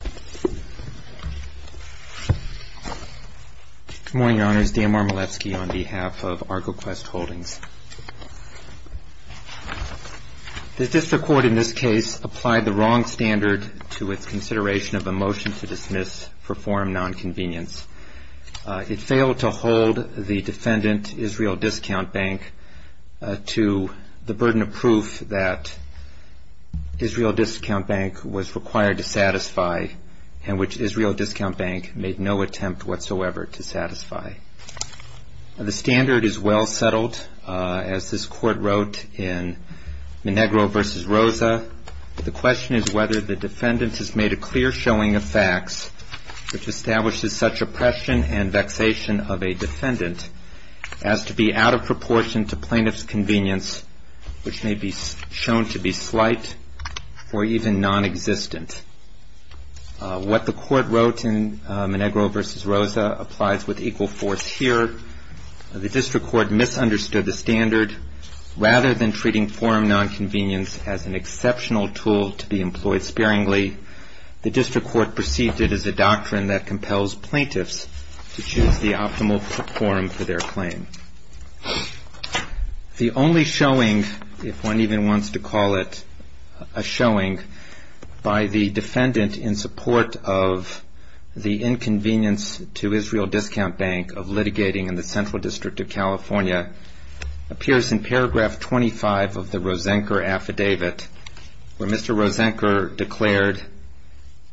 Good morning, Your Honors. Dan Marmoletsky on behalf of Argoquest Holdings. The District Court in this case applied the wrong standard to its consideration of a motion to dismiss for forum nonconvenience. It failed to hold the defendant, Israel Discount Bank, to the Israel Discount Bank made no attempt whatsoever to satisfy. The standard is well settled as this Court wrote in Minegro v. Rosa. The question is whether the defendant has made a clear showing of facts which establishes such oppression and vexation of a defendant as to be out of wrote in Minegro v. Rosa applies with equal force here. The District Court misunderstood the standard. Rather than treating forum nonconvenience as an exceptional tool to be employed sparingly, the District Court perceived it as a doctrine that compels plaintiffs to choose the optimal forum for their claim. The only showing, if one even wants to call it a showing, by the court of the inconvenience to Israel Discount Bank of litigating in the Central District of California appears in paragraph 25 of the Rosenker affidavit where Mr. Rosenker declared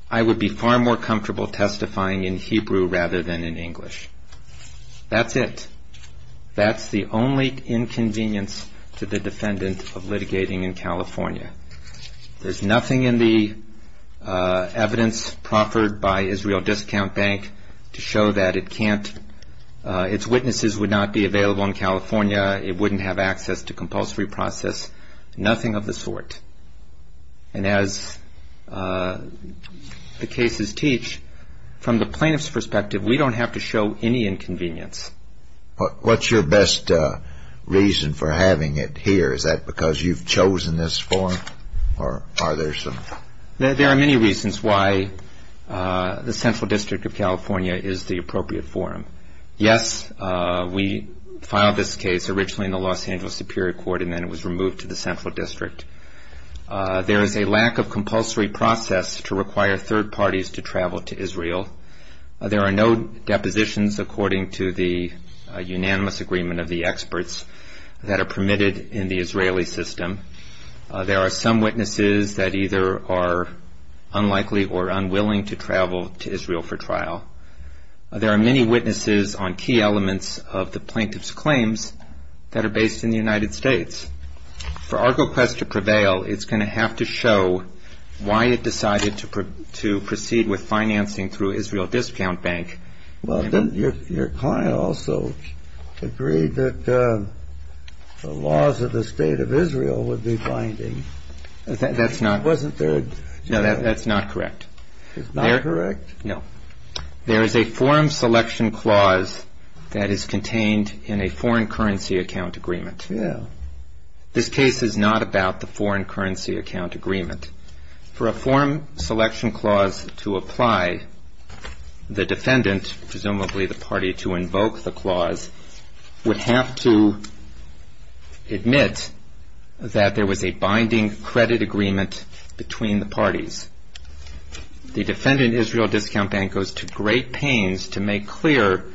I would be far more comfortable testifying in Hebrew rather than in English. That's it. That's the only inconvenience to the defendant of litigating in California. There's nothing in the evidence proffered by Israel Discount Bank to show that it can't, its witnesses would not be available in California, it wouldn't have access to compulsory process, nothing of the sort. And as the cases teach, from the plaintiff's perspective, we don't have to show any inconvenience. What's your best reason for having it here? Is that because you've chosen this forum or are there some? There are many reasons why the Central District of California is the appropriate forum. Yes, we filed this case originally in the Los Angeles Superior Court and then it was removed to the Central District. There is a lack of compulsory process to require third parties to travel to Israel. There are no depositions according to the unanimous agreement of the experts that are permitted in the Israeli system. There are some witnesses that either are unlikely or unwilling to travel to Israel for trial. There are many witnesses on key elements of the plaintiff's claims that are based in the United States. For Argo Press to prevail, it's going to have to show why it decided to proceed with financing through Israel Discount Bank. Well, didn't your client also agree that the laws of the State of Israel would be binding? That's not... It wasn't third... No, that's not correct. It's not correct? No. There is a forum selection clause that is contained in a foreign currency account agreement. Yeah. This case is not about the foreign currency account agreement. For a forum selection clause to apply, the defendant, presumably the party to invoke the clause, would have to admit that there was a binding credit agreement between the parties. The defendant, Israel Discount Bank, goes to great pains to make clear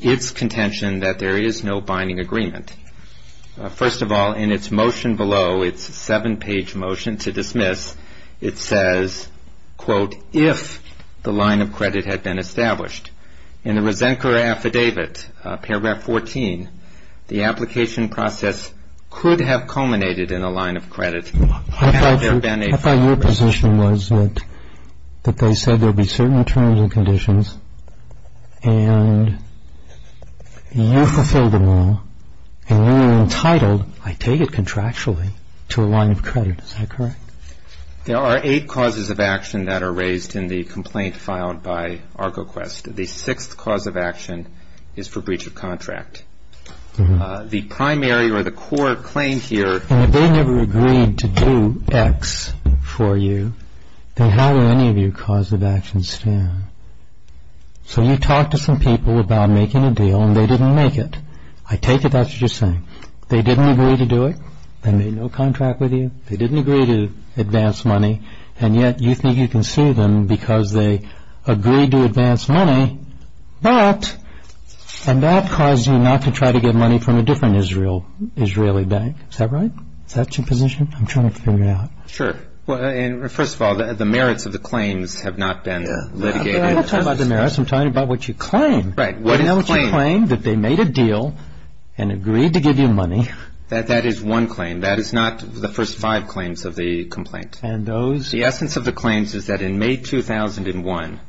its contention that there is no binding agreement. First of all, in its motion below, its seven-page motion to dismiss, it says, quote, if the line of credit had been established. In the Resenquer Affidavit, paragraph 14, the application process could have culminated in a line of credit, had there been a... I thought your position was that they said there would be certain terms and conditions, and you fulfill the law, and you are entitled, I take it contractually, to a line of credit. Is that correct? There are eight causes of action that are raised in the complaint filed by ArgoQuest. The sixth cause of action is for breach of contract. The primary or the core claim here... And if they never agreed to do X for you, then how do any of your causes of action stand? So you talk to some people about making a deal, and they didn't make it. I take it that's what you're saying. They didn't agree to do it? They made no contract with you? They didn't agree to advance money, and yet you think you can sue them because they agreed to advance money, but... and that caused you not to try to get money from a different Israel, Israeli bank. Is that right? Is that your position? I'm trying to figure it out. Sure. Well, first of all, the merits of the claims have not been litigated. I'm not talking about the merits. I'm talking about what you claim. Right. What is claimed? You know what you claim? That they made a deal and agreed to give you money. That is one claim. That is not the first five claims of the complaint. And those? The essence of the claims is that in May 2001,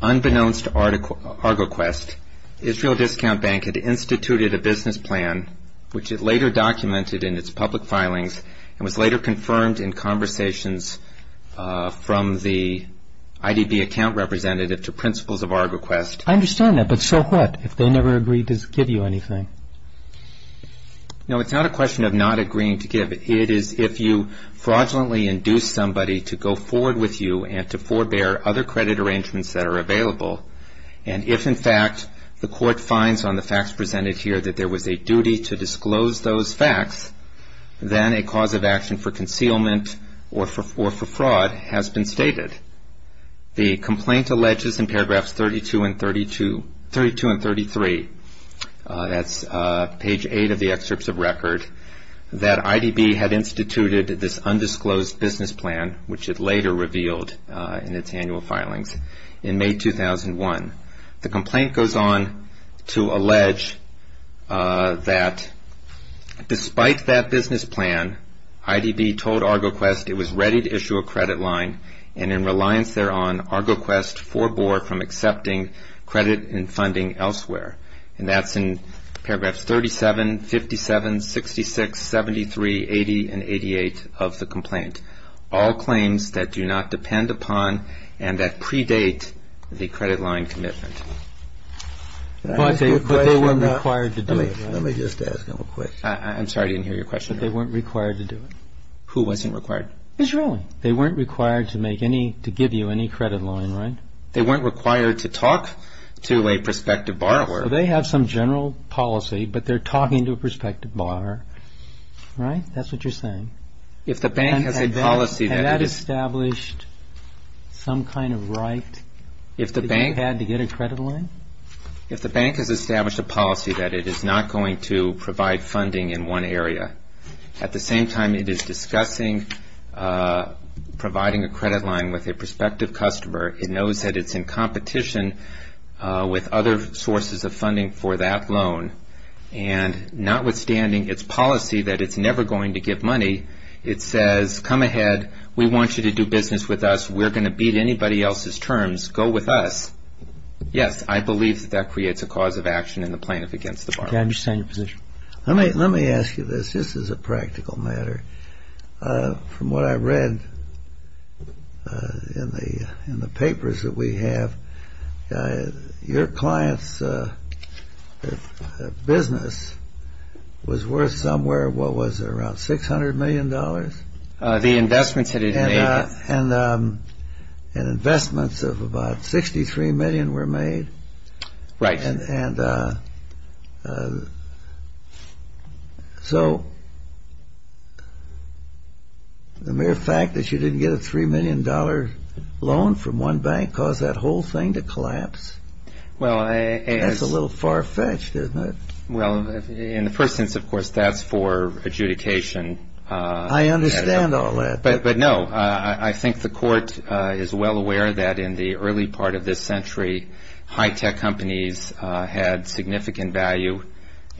unbeknownst to ArgoQuest, Israel Discount Bank had instituted a business plan, which it later documented in its public filings and was later confirmed in conversations from the IDB account representative to principals of ArgoQuest. I understand that, but so what if they never agreed to give you anything? No, it's not a question of not agreeing to give. It is if you fraudulently induce somebody to go forward with you and to forbear other credit arrangements that are available, and if, in fact, the court finds on the facts presented here that there was a duty to disclose those facts, then a cause of action for concealment or for fraud has been stated. The complaint alleges in paragraphs 32 and 33, that's page 8 of the excerpts of record, that IDB had instituted this undisclosed business plan, which it later revealed in its annual filings, in May 2001. The complaint goes on to allege that despite that business plan, IDB told ArgoQuest it was ready to issue a credit line, and in reliance thereon, ArgoQuest forbore from accepting credit and funding elsewhere. And that's in paragraphs 37, 57, 66, 73, 80, and 88 of the complaint. All claims that do not depend upon and that predate the credit line commitment. But they weren't required to do it. Let me just ask him a question. I'm sorry, I didn't hear your question. Who wasn't required to do it? Israel. They weren't required to give you any credit line, right? They weren't required to talk to a prospective borrower. So they have some general policy, but they're talking to a prospective borrower, right? That's what you're saying. If the bank has a policy that it is... Had that established some kind of right that you had to get a credit line? If the bank has established a policy that it is not going to provide funding in one providing a credit line with a prospective customer, it knows that it's in competition with other sources of funding for that loan, and notwithstanding its policy that it's never going to give money, it says, come ahead, we want you to do business with us, we're going to beat anybody else's terms, go with us. Yes, I believe that that creates a cause of action in the plaintiff against the borrower. I understand your position. Let me ask you this, just as a practical matter. From what I read in the papers that we have, your client's business was worth somewhere, what was it, around $600 million? The investments that it made. And investments of about $63 million were made. Right. And so the mere fact that you didn't get a $3 million loan from one bank caused that whole thing to collapse? Well, I... That's a little far-fetched, isn't it? Well, in the first sense, of course, that's for adjudication. I understand all that. But no, I think the court is well aware that in the early part of this century, high-tech companies had significant value.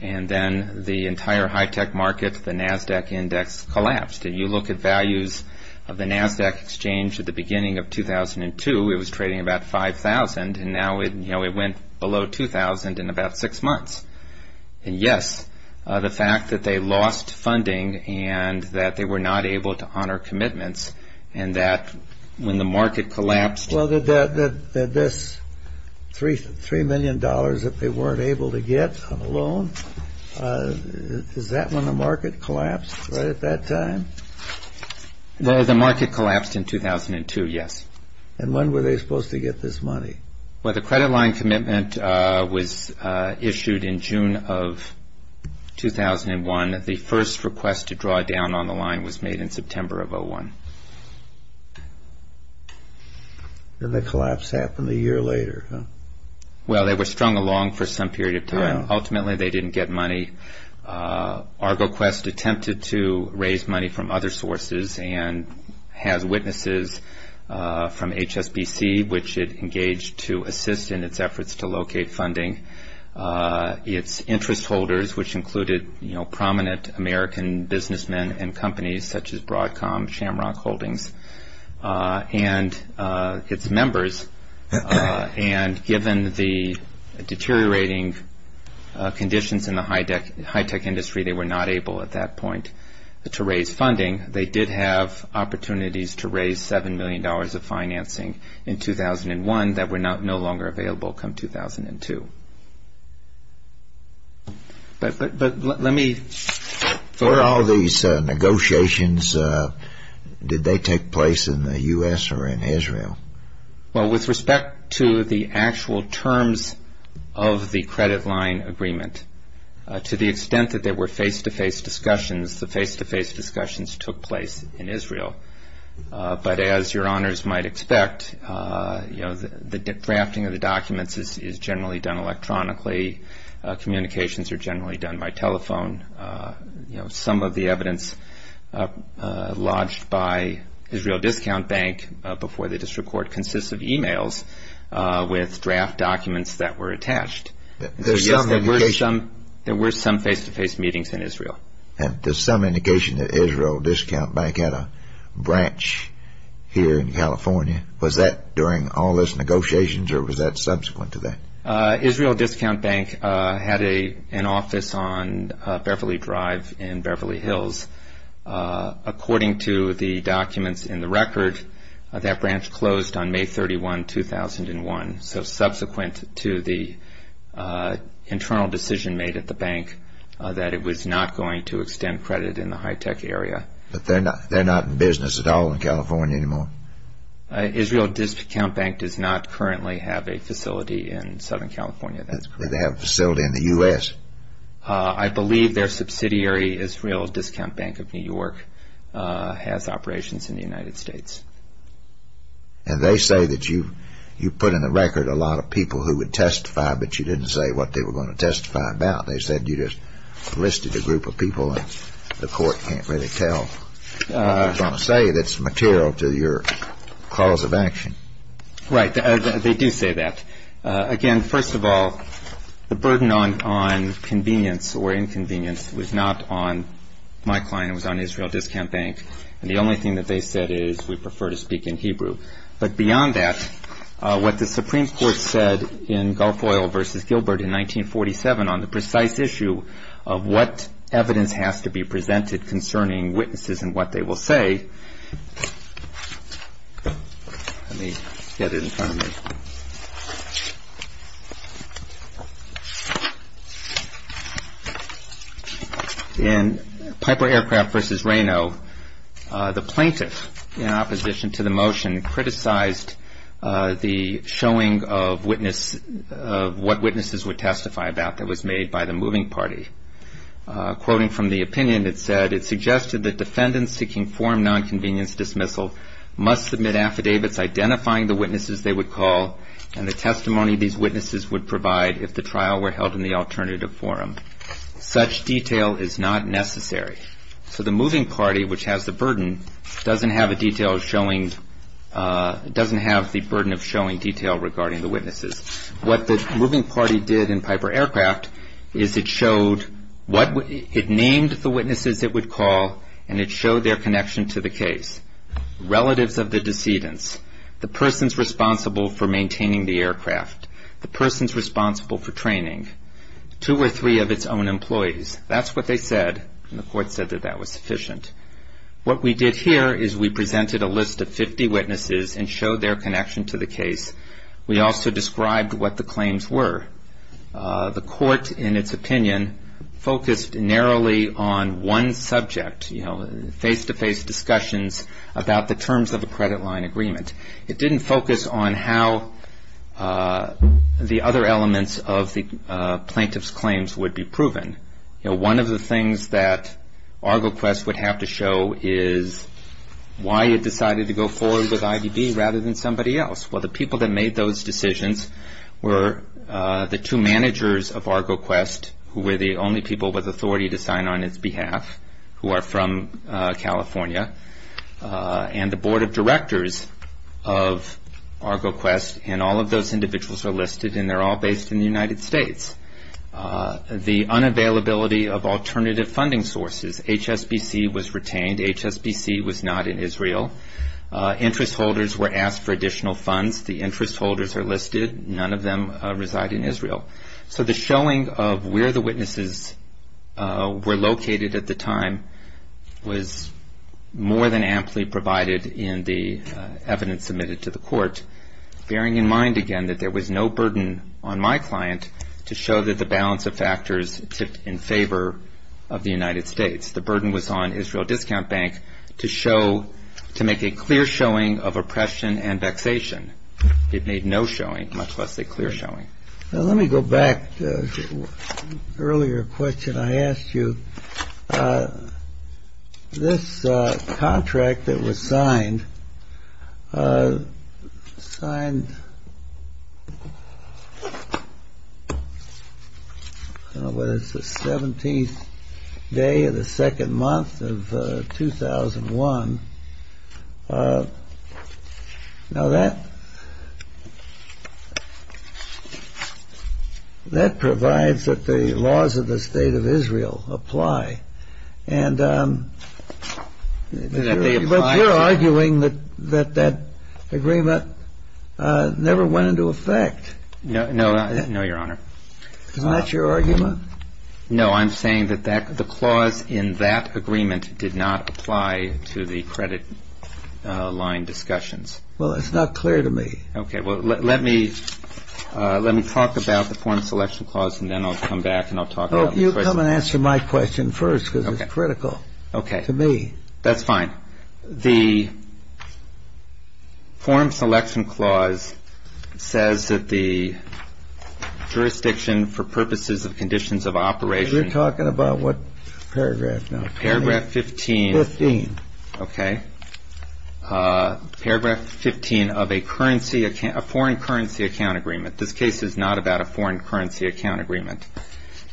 And then the entire high-tech market, the NASDAQ index, collapsed. And you look at values of the NASDAQ exchange at the beginning of 2002, it was trading about $5,000, and now it went below $2,000 in about six months. And yes, the fact that they lost funding and that they were not able to honor commitments, and that when the market collapsed... Well, that this $3 million that they weren't able to get on a loan, is that when the market collapsed right at that time? Well, the market collapsed in 2002, yes. And when were they supposed to get this money? Well, the credit line commitment was issued in June of 2001. The first request to draw down on the line was made in September of 2001. And the collapse happened a year later, huh? Well, they were strung along for some period of time. Ultimately, they didn't get money. ArgoQuest attempted to raise money from other sources and has witnesses from HSBC, which it engaged to assist in its efforts to locate funding. Its interest holders, which included prominent American businessmen and companies such as Broadcom, Shamrock Holdings. And its members. And given the deteriorating conditions in the high-tech industry, they were not able at that point to raise funding. They did have opportunities to raise $7 million of financing in 2001 that were no longer available come 2002. But let me... Where all these negotiations, did they take place in the U.S. or in Israel? Well, with respect to the actual terms of the credit line agreement, to the extent that there were face-to-face discussions, the face-to-face discussions took place in Israel. But as your honors might expect, the drafting of the documents is generally done electronically. Communications are generally done by telephone. Some of the evidence lodged by Israel Discount Bank before the district court consists of e-mails with draft documents that were attached. There were some face-to-face meetings in Israel. There's some indication that Israel Discount Bank had a branch here in California. Was that during all those negotiations or was that subsequent to that? Israel Discount Bank had an office on Beverly Drive in Beverly Hills. According to the documents in the record, that branch closed on May 31, 2001. So subsequent to the internal decision made at the bank that it was not going to extend credit in the high-tech area. But they're not in business at all in California anymore? Israel Discount Bank does not currently have a facility in Southern California. They have a facility in the U.S.? I believe their subsidiary, Israel Discount Bank of New York, has operations in the United States. And they say that you put in the record a lot of people who would testify, but you didn't say what they were going to testify about. They said you just listed a group of people and the court can't really tell. They don't say that's material to your cause of action. Right. They do say that. Again, first of all, the burden on convenience or inconvenience was not on my client. It was on Israel Discount Bank. And the only thing that they said is we prefer to speak in Hebrew. But beyond that, what the Supreme Court said in Garfoyle v. Gilbert in 1947 on the precise issue of what evidence has to be presented concerning witnesses and what they will say, in Piper Aircraft v. Reno, the plaintiff, in opposition to the motion, criticized the showing of what witnesses would testify about that was made by the moving party. Quoting from the opinion, it said, So the moving party, which has the burden, doesn't have the burden of showing detail regarding the witnesses. What the moving party did in Piper Aircraft is it named the witnesses it would call and it showed their connection to the case. Relatives of the decedents. The person's responsible for maintaining the aircraft. The person's responsible for training. Two or three of its own employees. That's what they said. And the court said that that was sufficient. What we did here is we presented a list of 50 witnesses and showed their connection to the case. We also described what the claims were. The court, in its opinion, focused narrowly on one subject. Face-to-face discussions about the terms of a credit line agreement. It didn't focus on how the other elements of the plaintiff's claims would be proven. One of the things that ArgoQuest would have to show is why it decided to go forward with IDB rather than somebody else. Well, the people that made those decisions were the two managers of ArgoQuest who were the only people with authority to sign on its behalf who are from California. And the board of directors of ArgoQuest and all of those individuals are listed and they're all based in the United States. The unavailability of alternative funding sources. HSBC was retained. HSBC was not in Israel. Interest holders were asked for additional funds. The interest holders are listed. None of them reside in Israel. So the showing of where the witnesses were located at the time was more than amply provided in the evidence submitted to the court, bearing in mind again that there was no burden on my client to show that the balance of factors tipped in favor of the United States. The burden was on Israel Discount Bank to make a clear showing of oppression and vexation. It made no showing, much less a clear showing. Let me go back to an earlier question I asked you. This contract that was signed signed, I don't know whether it's the 17th day or the second month of 2001. Now that provides that the laws of the State of Israel apply. But you're arguing that that agreement never went into effect. No, Your Honor. Isn't that your argument? No, I'm saying that the clause in that agreement did not apply to the credit line discussions. Well, it's not clear to me. Okay, well, let me talk about the Foreign Selection Clause and then I'll come back and I'll talk about the question. Come and answer my question first because it's critical to me. Okay, that's fine. The Foreign Selection Clause says that the jurisdiction for purposes of conditions of operation You're talking about what paragraph now? Paragraph 15. Fifteen. Okay. Paragraph 15 of a foreign currency account agreement. This case is not about a foreign currency account agreement.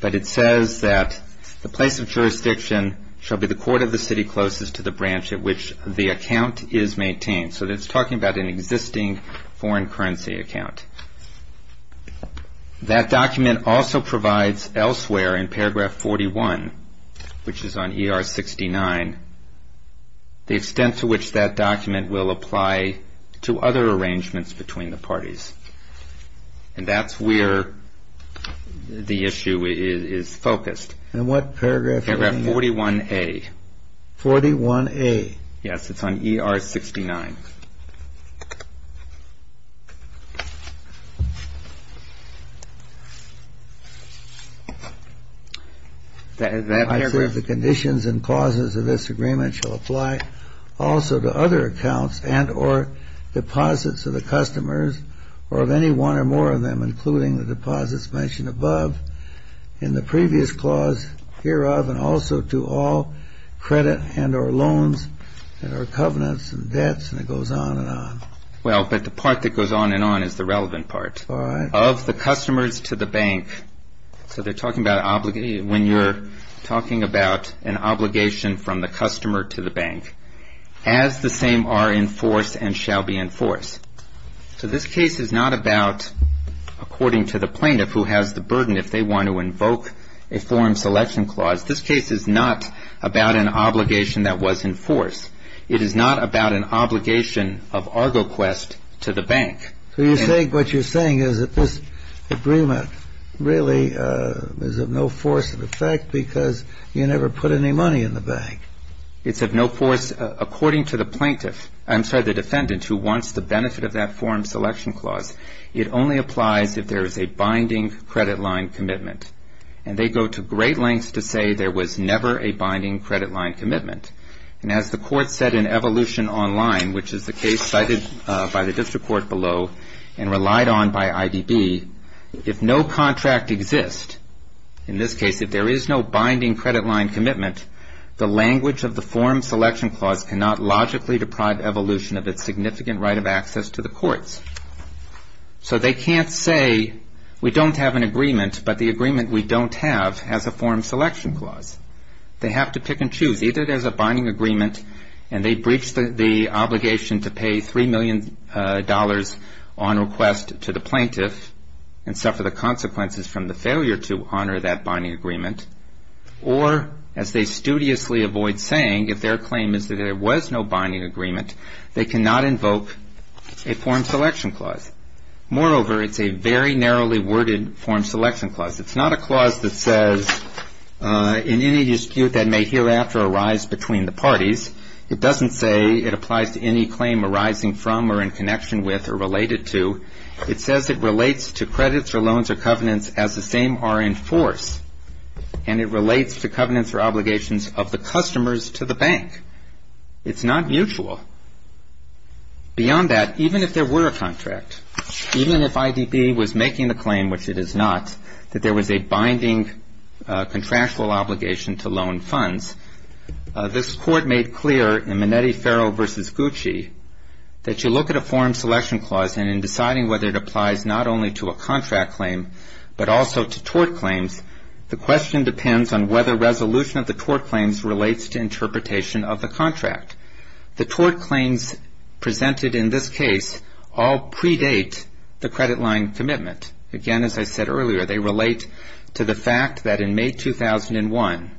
But it says that the place of jurisdiction shall be the court of the city closest to the branch at which the account is maintained. So it's talking about an existing foreign currency account. That document also provides elsewhere in paragraph 41, which is on ER 69, the extent to which that document will apply to other arrangements between the parties. And that's where the issue is focused. And what paragraph? Paragraph 41A. 41A. Yes, it's on ER 69. I said the conditions and clauses of this agreement shall apply also to other accounts and or deposits of the customers or of any one or more of them, including the deposits mentioned above in the previous clause, hereof and also to all credit and or loans and or covenants and debts. And it goes on and on. Well, but the part that goes on and on is the relevant part. All right. Of the customers to the bank. So they're talking about when you're talking about an obligation from the customer to the bank. As the same are in force and shall be in force. So this case is not about, according to the plaintiff who has the burden, if they want to invoke a foreign selection clause. This case is not about an obligation that was in force. It is not about an obligation of ArgoQuest to the bank. So you're saying what you're saying is that this agreement really is of no force in effect because you never put any money in the bank. It's of no force according to the plaintiff. I'm sorry, the defendant who wants the benefit of that foreign selection clause. It only applies if there is a binding credit line commitment. And they go to great lengths to say there was never a binding credit line commitment. And as the court said in Evolution Online, which is the case cited by the district court below and relied on by IDB, if no contract exists, in this case, if there is no binding credit line commitment, the language of the foreign selection clause cannot logically deprive Evolution of its significant right of access to the courts. So they can't say we don't have an agreement, but the agreement we don't have has a foreign selection clause. They have to pick and choose. Either there's a binding agreement and they breach the obligation to pay $3 million on request to the plaintiff and suffer the consequences from the failure to honor that binding agreement, or as they studiously avoid saying, if their claim is that there was no binding agreement, they cannot invoke a foreign selection clause. Moreover, it's a very narrowly worded foreign selection clause. It's not a clause that says in any dispute that may hereafter arise between the parties. It doesn't say it applies to any claim arising from or in connection with or related to. It says it relates to credits or loans or covenants as the same are in force, and it relates to covenants or obligations of the customers to the bank. It's not mutual. Beyond that, even if there were a contract, even if IDB was making the claim, which it is not, that there was a binding contractual obligation to loan funds, this court made clear in Minetti-Farrell v. Gucci that you look at a foreign selection clause and in deciding whether it applies not only to a contract claim but also to tort claims, the question depends on whether resolution of the tort claims relates to interpretation of the contract. The tort claims presented in this case all predate the credit line commitment. Again, as I said earlier, they relate to the fact that in May 2001,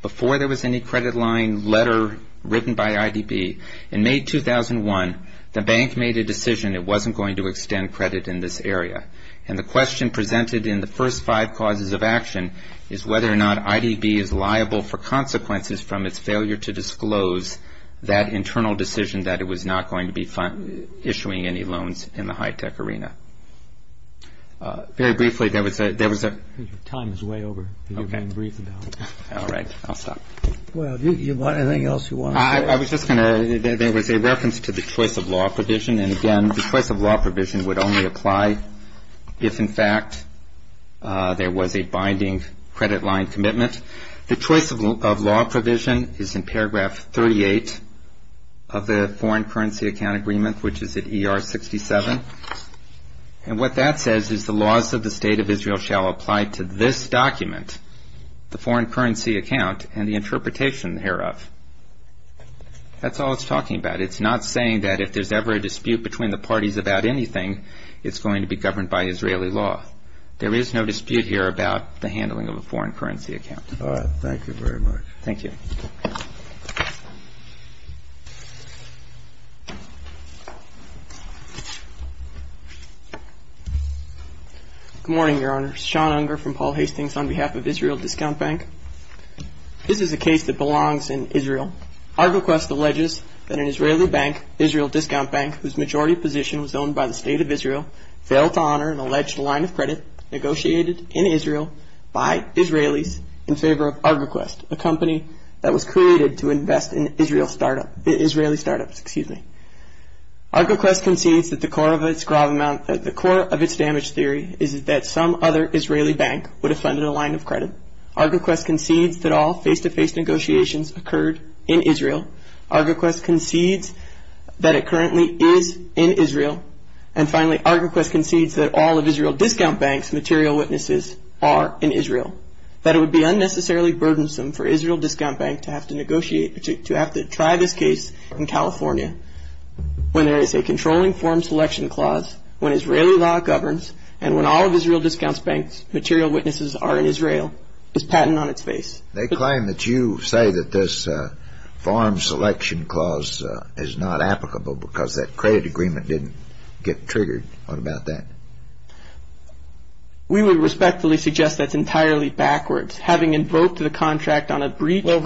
before there was any credit line letter written by IDB, in May 2001, the bank made a decision it wasn't going to extend credit in this area, and the question presented in the first five causes of action is whether or not IDB is liable for consequences from its failure to disclose that internal decision that it was not going to be issuing any loans in the high-tech arena. Very briefly, there was a... Your time is way over. Okay. You've been briefed now. All right. I'll stop. Well, do you want anything else you want to say? I was just going to... There was a reference to the choice-of-law provision, and again, the choice-of-law provision would only apply if, in fact, there was a binding credit line commitment. The choice-of-law provision is in paragraph 38 of the Foreign Currency Account Agreement, which is at ER 67, and what that says is the laws of the State of Israel shall apply to this document, the foreign currency account, and the interpretation thereof. That's all it's talking about. It's not saying that if there's ever a dispute between the parties about anything, it's going to be governed by Israeli law. There is no dispute here about the handling of a foreign currency account. All right. Thank you very much. Thank you. Good morning, Your Honor. Sean Unger from Paul Hastings on behalf of Israel Discount Bank. This is a case that belongs in Israel. ArgoQuest alleges that an Israeli bank, Israel Discount Bank, whose majority position was owned by the State of Israel, failed to honor an alleged line of credit negotiated in Israel by Israelis in favor of ArgoQuest, a company that was created to invest in Israeli startups. ArgoQuest concedes that the core of its damage theory is that some other Israeli bank would have funded a line of credit. ArgoQuest concedes that all face-to-face negotiations occurred in Israel. ArgoQuest concedes that it currently is in Israel. And finally, ArgoQuest concedes that all of Israel Discount Bank's material witnesses are in Israel, that it would be unnecessarily burdensome for Israel Discount Bank to have to negotiate, to have to try this case in California when there is a controlling form selection clause, when Israeli law governs, and when all of Israel Discount Bank's material witnesses are in Israel, is patent on its face. They claim that you say that this form selection clause is not applicable because that credit agreement didn't get triggered. What about that? We would respectfully suggest that's entirely backwards. Having invoked the contract on a breach of... You have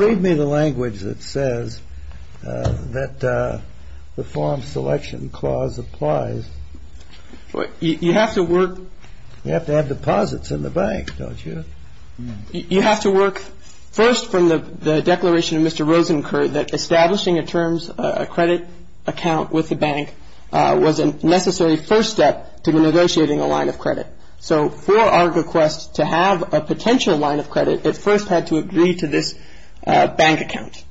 to work... You have to have deposits in the bank, don't you? You have to work first from the declaration of Mr. Rosenker that establishing a terms credit account with the bank was a necessary first step to negotiating a line of credit. So for ArgoQuest to have a potential line of credit, it first had to agree to this bank account.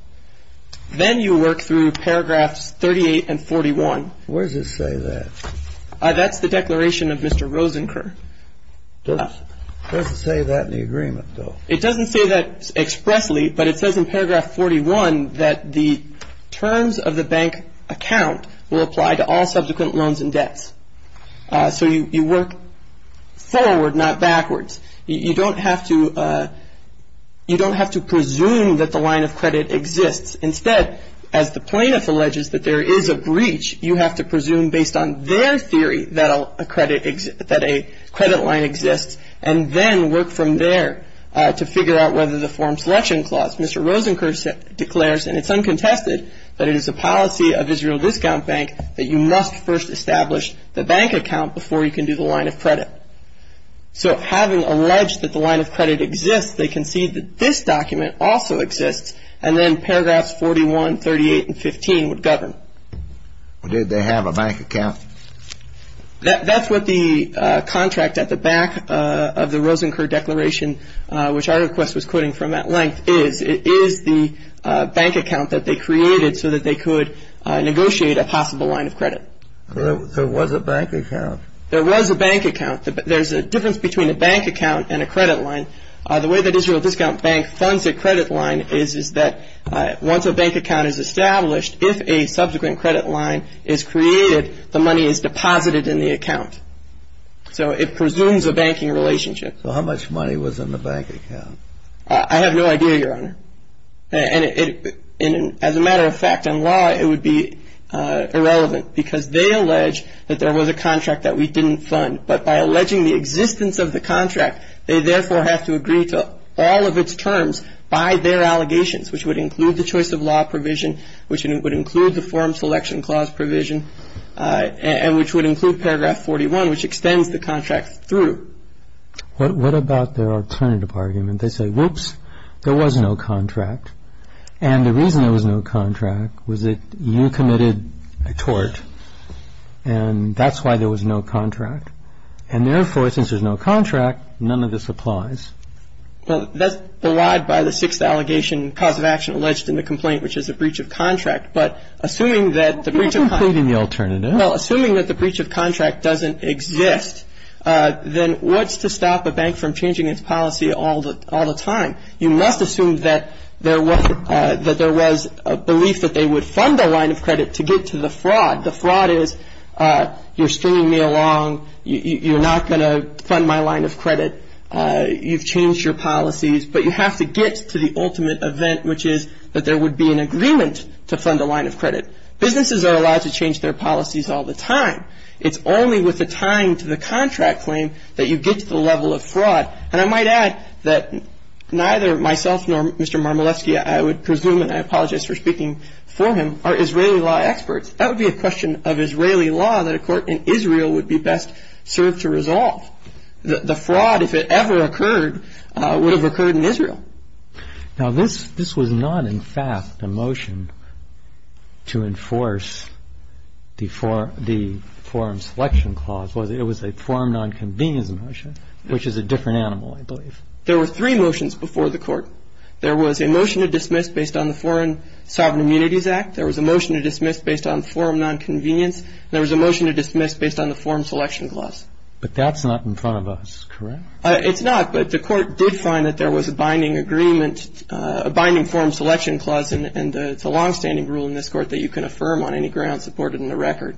Then you work through paragraphs 38 and 41. Where does it say that? That's the declaration of Mr. Rosenker. It doesn't say that in the agreement, though. It doesn't say that expressly, but it says in paragraph 41 that the terms of the bank account will apply to all subsequent loans and debts. So you work forward, not backwards. You don't have to presume that the line of credit exists. Instead, as the plaintiff alleges that there is a breach, you have to presume based on their theory that a credit line exists and then work from there to figure out whether the form selection clause, Mr. Rosenker declares, and it's uncontested, that it is a policy of Israel Discount Bank that you must first establish the bank account before you can do the line of credit. So having alleged that the line of credit exists, they concede that this document also exists, and then paragraphs 41, 38, and 15 would govern. Did they have a bank account? That's what the contract at the back of the Rosenker Declaration, which our request was quoting from at length, is. It is the bank account that they created so that they could negotiate a possible line of credit. There was a bank account. There was a bank account. There's a difference between a bank account and a credit line. The way that Israel Discount Bank funds a credit line is that once a bank account is established, if a subsequent credit line is created, the money is deposited in the account. So it presumes a banking relationship. So how much money was in the bank account? I have no idea, Your Honor. And as a matter of fact, in law, it would be irrelevant because they allege that there was a contract that we didn't fund. But by alleging the existence of the contract, they therefore have to agree to all of its terms by their allegations, which would include the choice of law provision, which would include the form selection clause provision, and which would include paragraph 41, which extends the contract through. What about their alternative argument? They say, whoops, there was no contract. And the reason there was no contract was that you committed a tort, and that's why there was no contract. And therefore, since there's no contract, none of this applies. Well, that's belied by the sixth allegation, cause of action alleged in the complaint, which is a breach of contract. But assuming that the breach of contract doesn't exist, then what's to stop a bank from changing its policy all the time? You must assume that there was a belief that they would fund a line of credit to get to the fraud. The fraud is you're stringing me along, you're not going to fund my line of credit, you've changed your policies, but you have to get to the ultimate event, which is that there would be an agreement to fund a line of credit. Businesses are allowed to change their policies all the time. It's only with a tying to the contract claim that you get to the level of fraud. And I might add that neither myself nor Mr. Marmolevsky, I would presume, and I apologize for speaking for him, are Israeli law experts. That would be a question of Israeli law that a court in Israel would be best served to resolve. The fraud, if it ever occurred, would have occurred in Israel. Now, this was not, in fact, a motion to enforce the Foreign Selection Clause, was it? It was a foreign non-convenience motion, which is a different animal, I believe. There were three motions before the court. There was a motion to dismiss based on the Foreign Sovereign Immunities Act. There was a motion to dismiss based on foreign non-convenience. And there was a motion to dismiss based on the Foreign Selection Clause. But that's not in front of us, correct? It's not, but the court did find that there was a binding agreement, a binding Foreign Selection Clause, and it's a longstanding rule in this court that you can affirm on any ground supported in the record.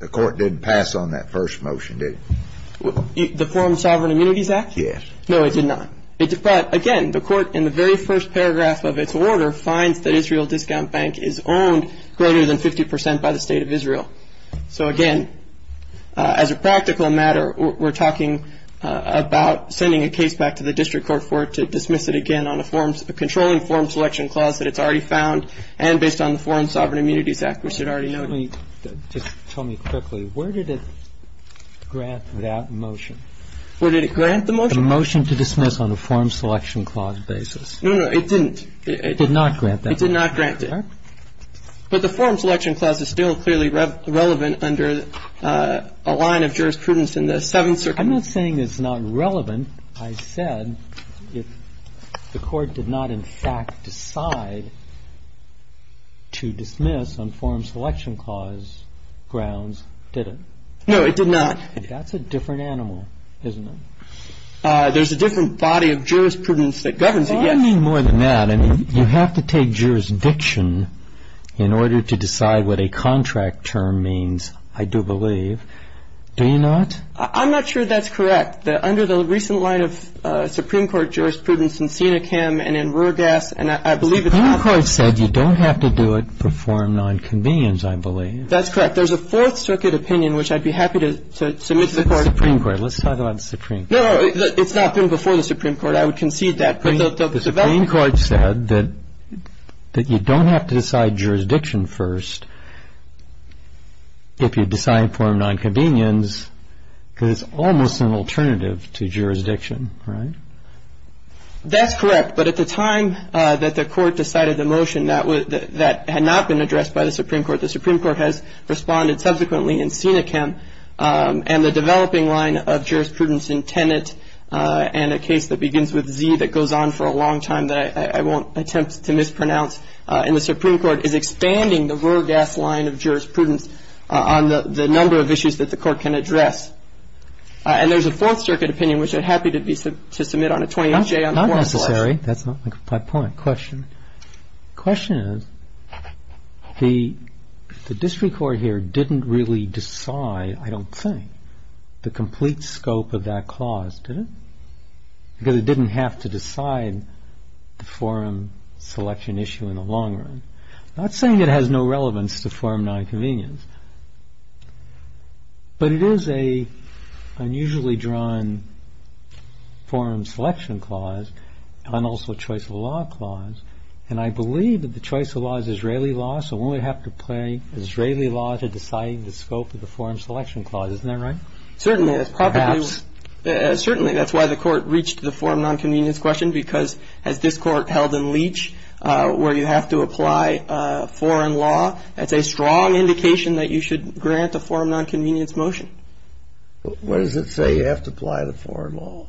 The court didn't pass on that first motion, did it? The Foreign Sovereign Immunities Act? Yes. No, it did not. Again, the court, in the very first paragraph of its order, finds that Israel Discount Bank is owned greater than 50 percent by the State of Israel. So, again, as a practical matter, we're talking about sending a case back to the district court for it to dismiss it again on a form, a controlling form selection clause that it's already found and based on the Foreign Sovereign Immunities Act, which it already noted. Just tell me quickly, where did it grant that motion? Where did it grant the motion? The motion to dismiss on a form selection clause basis. No, no, it didn't. It did not grant that motion. It did not grant it. Correct? But the form selection clause is still clearly relevant under a line of jurisprudence in the Seventh Circuit. I'm not saying it's not relevant. I said if the court did not in fact decide to dismiss on form selection clause grounds, did it? No, it did not. That's a different animal, isn't it? There's a different body of jurisprudence that governs it, yes. Well, I mean more than that. I mean, you have to take jurisdiction in order to decide what a contract term means, I do believe. Do you not? I'm not sure that's correct. Under the recent line of Supreme Court jurisprudence in Senecam and in Ruergas, and I believe it's not. The Supreme Court said you don't have to do it before a nonconvenience, I believe. That's correct. There's a Fourth Circuit opinion, which I'd be happy to submit to the Court. The Supreme Court. Let's talk about the Supreme Court. No, no. It's not been before the Supreme Court. I would concede that. The Supreme Court said that you don't have to decide jurisdiction first if you decide form nonconvenience because it's almost an alternative to jurisdiction, right? That's correct. But at the time that the Court decided the motion, that had not been addressed by the Supreme Court. The Supreme Court has responded subsequently in Senecam. And the developing line of jurisprudence in Tenet and a case that begins with Z that goes on for a long time that I won't attempt to mispronounce in the Supreme Court is expanding the Ruergas line of jurisprudence on the number of issues that the Court can address. And there's a Fourth Circuit opinion, which I'd be happy to submit on a 28-J on the Foreign Court. That's not necessary. That's not my point. The question is the district court here didn't really decide, I don't think, the complete scope of that clause, did it? Because it didn't have to decide the forum selection issue in the long run. I'm not saying it has no relevance to form nonconvenience. But it is an unusually drawn forum selection clause and also a choice of law clause. And I believe that the choice of law is Israeli law, so one would have to play Israeli law to decide the scope of the forum selection clause. Isn't that right? Certainly. Perhaps. Certainly. That's why the Court reached the forum nonconvenience question, because as this Court held in Leach where you have to apply foreign law, that's a strong indication that you should grant a forum nonconvenience motion. What does it say, you have to apply the foreign law?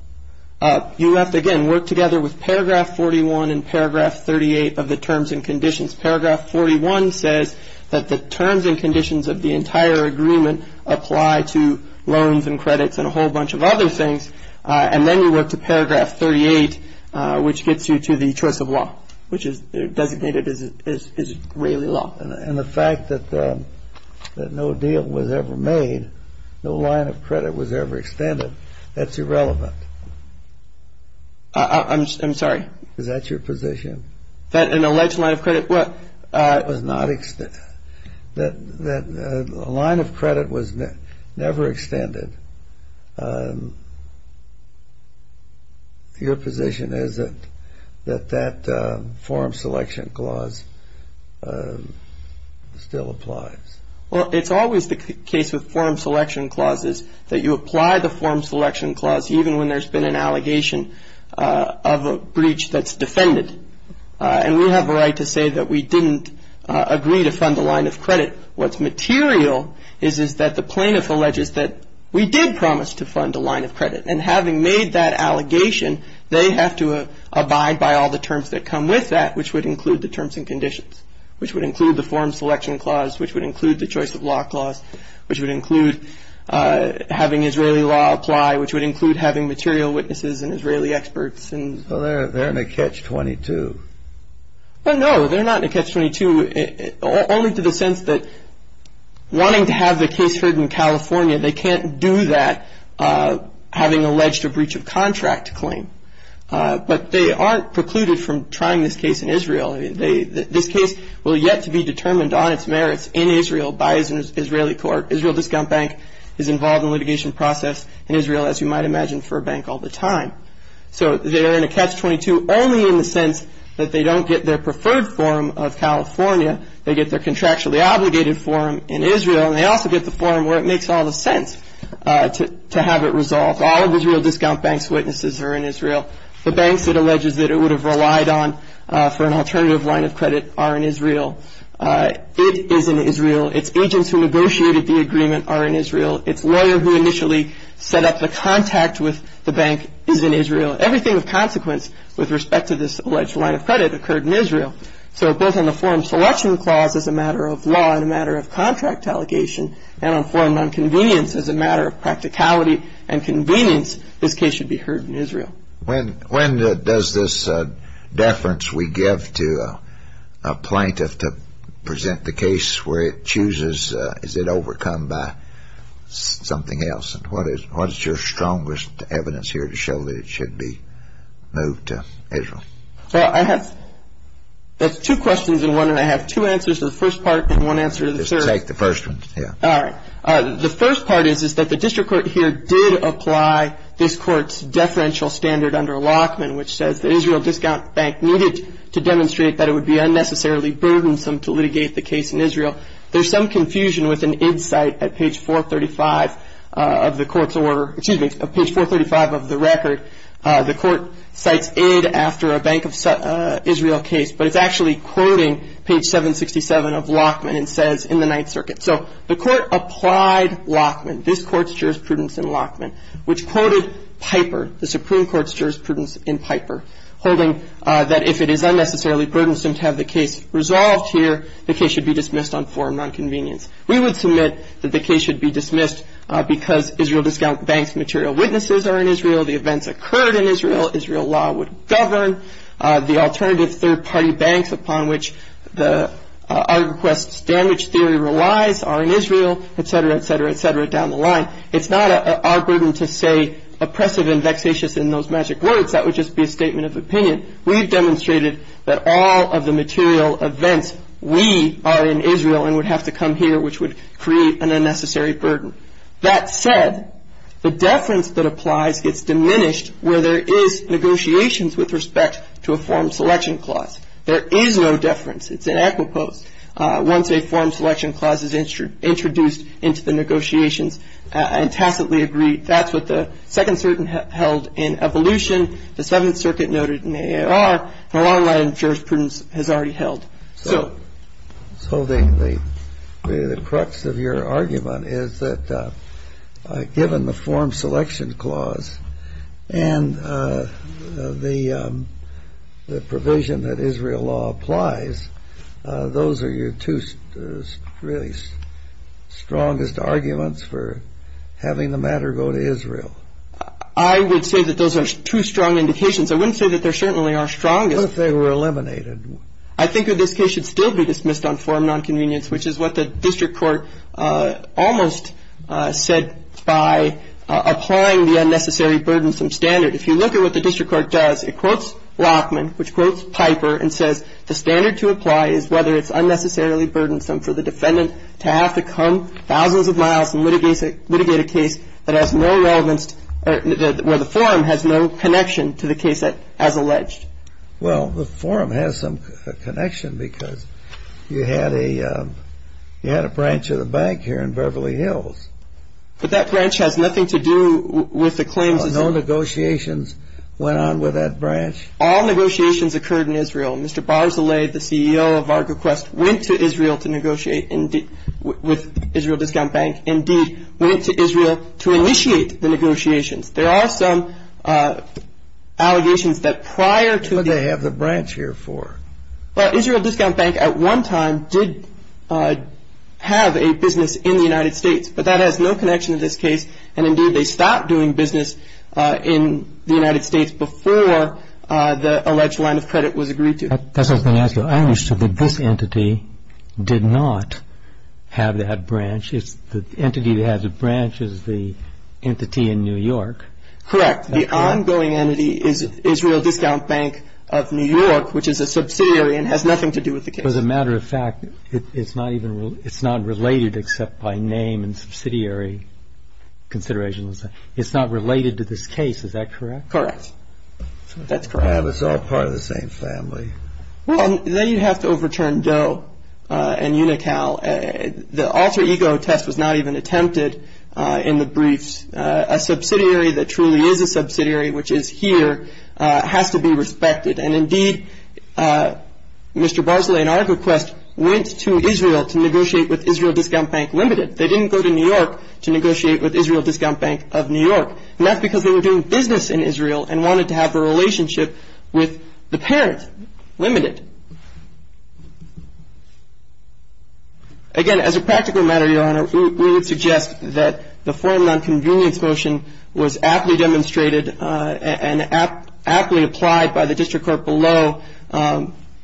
You have to, again, work together with paragraph 41 and paragraph 38 of the terms and conditions. Paragraph 41 says that the terms and conditions of the entire agreement apply to loans and credits and a whole bunch of other things. And then you work to paragraph 38, which gets you to the choice of law, which is designated as Israeli law. And the fact that no deal was ever made, no line of credit was ever extended, that's irrelevant. I'm sorry? Is that your position? That an alleged line of credit was? It was not extended. The line of credit was never extended. Your position is that that forum selection clause still applies? Well, it's always the case with forum selection clauses that you apply the forum selection clause, even when there's been an allegation of a breach that's defended. And we have a right to say that we didn't agree to fund the line of credit. What's material is that the plaintiff alleges that we did promise to fund the line of credit. And having made that allegation, they have to abide by all the terms that come with that, which would include the terms and conditions, which would include the forum selection clause, which would include the choice of law clause, which would include having Israeli law apply, which would include having material witnesses and Israeli experts. Well, they're in a catch-22. Well, no, they're not in a catch-22, only to the sense that wanting to have the case heard in California, they can't do that having alleged a breach of contract claim. But they aren't precluded from trying this case in Israel. This case will yet to be determined on its merits in Israel by an Israeli court. Israel Discount Bank is involved in litigation process in Israel, as you might imagine, for a bank all the time. So they are in a catch-22 only in the sense that they don't get their preferred forum of California. They get their contractually obligated forum in Israel, and they also get the forum where it makes all the sense to have it resolved. All of Israel Discount Bank's witnesses are in Israel. The banks it alleges that it would have relied on for an alternative line of credit are in Israel. It is in Israel. Its agents who negotiated the agreement are in Israel. Its lawyer who initially set up the contact with the bank is in Israel. Everything of consequence with respect to this alleged line of credit occurred in Israel. So both on the forum selection clause as a matter of law and a matter of contract allegation and on forum nonconvenience as a matter of practicality and convenience, this case should be heard in Israel. When does this deference we give to a plaintiff to present the case where it chooses, is it overcome by something else? And what is your strongest evidence here to show that it should be moved to Israel? Well, I have two questions in one, and I have two answers to the first part and one answer to the third. Just take the first one. All right. The first part is that the district court here did apply this court's deferential standard under Lockman, which says the Israel Discount Bank needed to demonstrate that it would be unnecessarily burdensome to litigate the case in Israel. There's some confusion with an id cite at page 435 of the court's order. Excuse me, page 435 of the record. The court cites id after a Bank of Israel case, but it's actually quoting page 767 of Lockman and says in the Ninth Circuit. So the court applied Lockman, this court's jurisprudence in Lockman, which quoted Piper, the Supreme Court's jurisprudence in Piper, holding that if it is unnecessarily burdensome to have the case resolved here, the case should be dismissed on forum nonconvenience. We would submit that the case should be dismissed because Israel Discount Bank's material witnesses are in Israel, the events occurred in Israel, Israel law would govern, the alternative third-party banks upon which our request's damage theory relies are in Israel, etc., etc., etc., down the line. It's not our burden to say oppressive and vexatious in those magic words. That would just be a statement of opinion. We've demonstrated that all of the material events, we are in Israel and would have to come here, which would create an unnecessary burden. That said, the deference that applies gets diminished where there is negotiations with respect to a forum selection clause. There is no deference. It's an equipost. Once a forum selection clause is introduced into the negotiations and tacitly agreed, that's what the Second Circuit held in Evolution, the Seventh Circuit noted in AAR, and a long line of jurisprudence has already held. So the crux of your argument is that given the forum selection clause and the provision that Israel law applies, those are your two really strongest arguments for having the matter go to Israel. I would say that those are two strong indications. I wouldn't say that they certainly are strongest. What if they were eliminated? I think that this case should still be dismissed on forum nonconvenience, which is what the district court almost said by applying the unnecessary burdensome standard. If you look at what the district court does, it quotes Lockman, which quotes Piper, and says the standard to apply is whether it's unnecessarily burdensome for the defendant to have to come thousands of miles and litigate a case where the forum has no connection to the case as alleged. Well, the forum has some connection because you had a branch of the bank here in Beverly Hills. But that branch has nothing to do with the claims. No negotiations went on with that branch. All negotiations occurred in Israel. Mr. Barzilay, the CEO of ArgoQuest, went to Israel to negotiate with Israel Discount Bank, indeed went to Israel to initiate the negotiations. There are some allegations that prior to the- What did they have the branch here for? Well, Israel Discount Bank at one time did have a business in the United States, but that has no connection to this case. And, indeed, they stopped doing business in the United States before the alleged line of credit was agreed to. That's what I was going to ask you. I understood that this entity did not have that branch. The entity that has a branch is the entity in New York. Correct. The ongoing entity is Israel Discount Bank of New York, which is a subsidiary and has nothing to do with the case. As a matter of fact, it's not related except by name and subsidiary considerations. It's not related to this case. Is that correct? Correct. That's correct. It's all part of the same family. Well, then you have to overturn Doe and Unocal. The alter ego test was not even attempted in the briefs. A subsidiary that truly is a subsidiary, which is here, has to be respected. And, indeed, Mr. Barzilai, in our request, went to Israel to negotiate with Israel Discount Bank Limited. They didn't go to New York to negotiate with Israel Discount Bank of New York. And that's because they were doing business in Israel and wanted to have a relationship with the parent, Limited. Again, as a practical matter, Your Honor, we would suggest that the form of nonconvenience motion was aptly demonstrated and aptly applied by the district court below.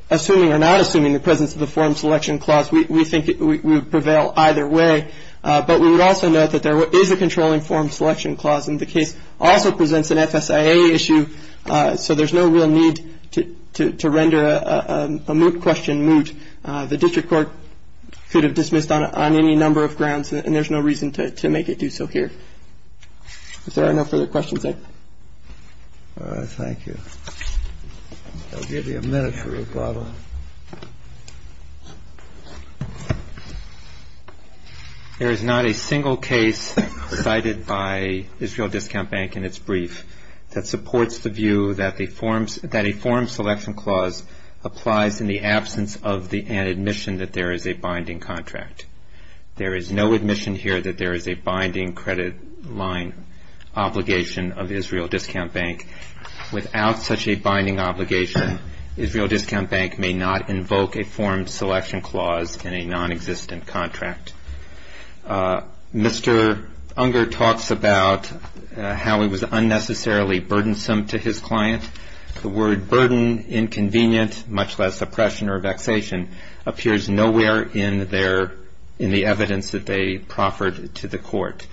Assuming or not assuming the presence of the form selection clause, we think it would prevail either way. But we would also note that there is a controlling form selection clause, and the case also presents an FSIA issue, so there's no real need to render a moot question moot. The district court could have dismissed on any number of grounds, and there's no reason to make it do so here. If there are no further questions, then. All right. Thank you. I'll give you a minute for rebuttal. Your Honor, there is not a single case cited by Israel Discount Bank in its brief that supports the view that a form selection clause applies in the absence of an admission that there is a binding contract. There is no admission here that there is a binding credit line obligation of Israel Discount Bank. Without such a binding obligation, Israel Discount Bank may not invoke a form selection clause in a nonexistent contract. Mr. Unger talks about how it was unnecessarily burdensome to his client. The word burden, inconvenient, much less oppression or vexation, appears nowhere in the evidence that they proffered to the court.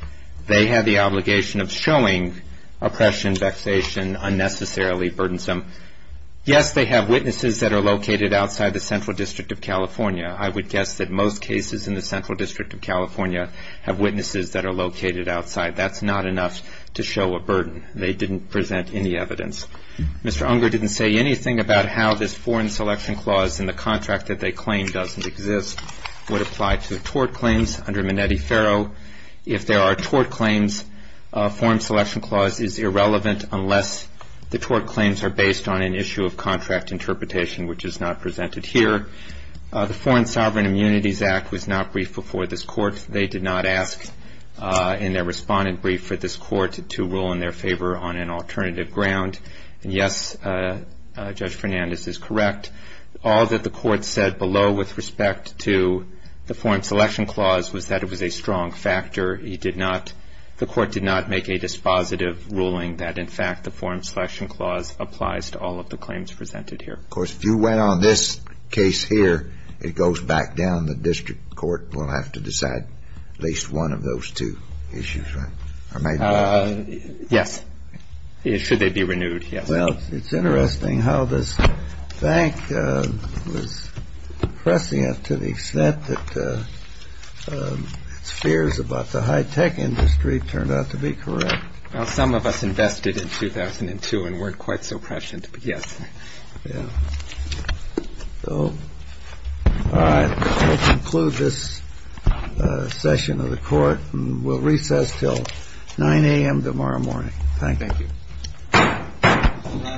They had the obligation of showing oppression, vexation unnecessarily burdensome. Yes, they have witnesses that are located outside the Central District of California. I would guess that most cases in the Central District of California have witnesses that are located outside. That's not enough to show a burden. They didn't present any evidence. Mr. Unger didn't say anything about how this foreign selection clause in the contract that they claim doesn't exist would apply to tort claims under Minetti-Ferro. If there are tort claims, a form selection clause is irrelevant unless the tort claims are based on an issue of contract interpretation, which is not presented here. The Foreign Sovereign Immunities Act was not briefed before this Court. They did not ask in their respondent brief for this Court to rule in their favor on an alternative ground. Yes, Judge Fernandez is correct. All that the Court said below with respect to the foreign selection clause was that it was a strong factor. He did not – the Court did not make a dispositive ruling that, in fact, the foreign selection clause applies to all of the claims presented here. Of course, if you went on this case here, it goes back down. The district court will have to decide at least one of those two issues, right? Or maybe both. Yes. Should they be renewed, yes. Well, it's interesting how this bank was prescient to the extent that its fears about the high-tech industry turned out to be correct. Well, some of us invested in 2002 and weren't quite so prescient, but yes. Yeah. So, all right, we'll conclude this session of the Court, and we'll recess until 9 a.m. tomorrow morning. Thank you. Thank you.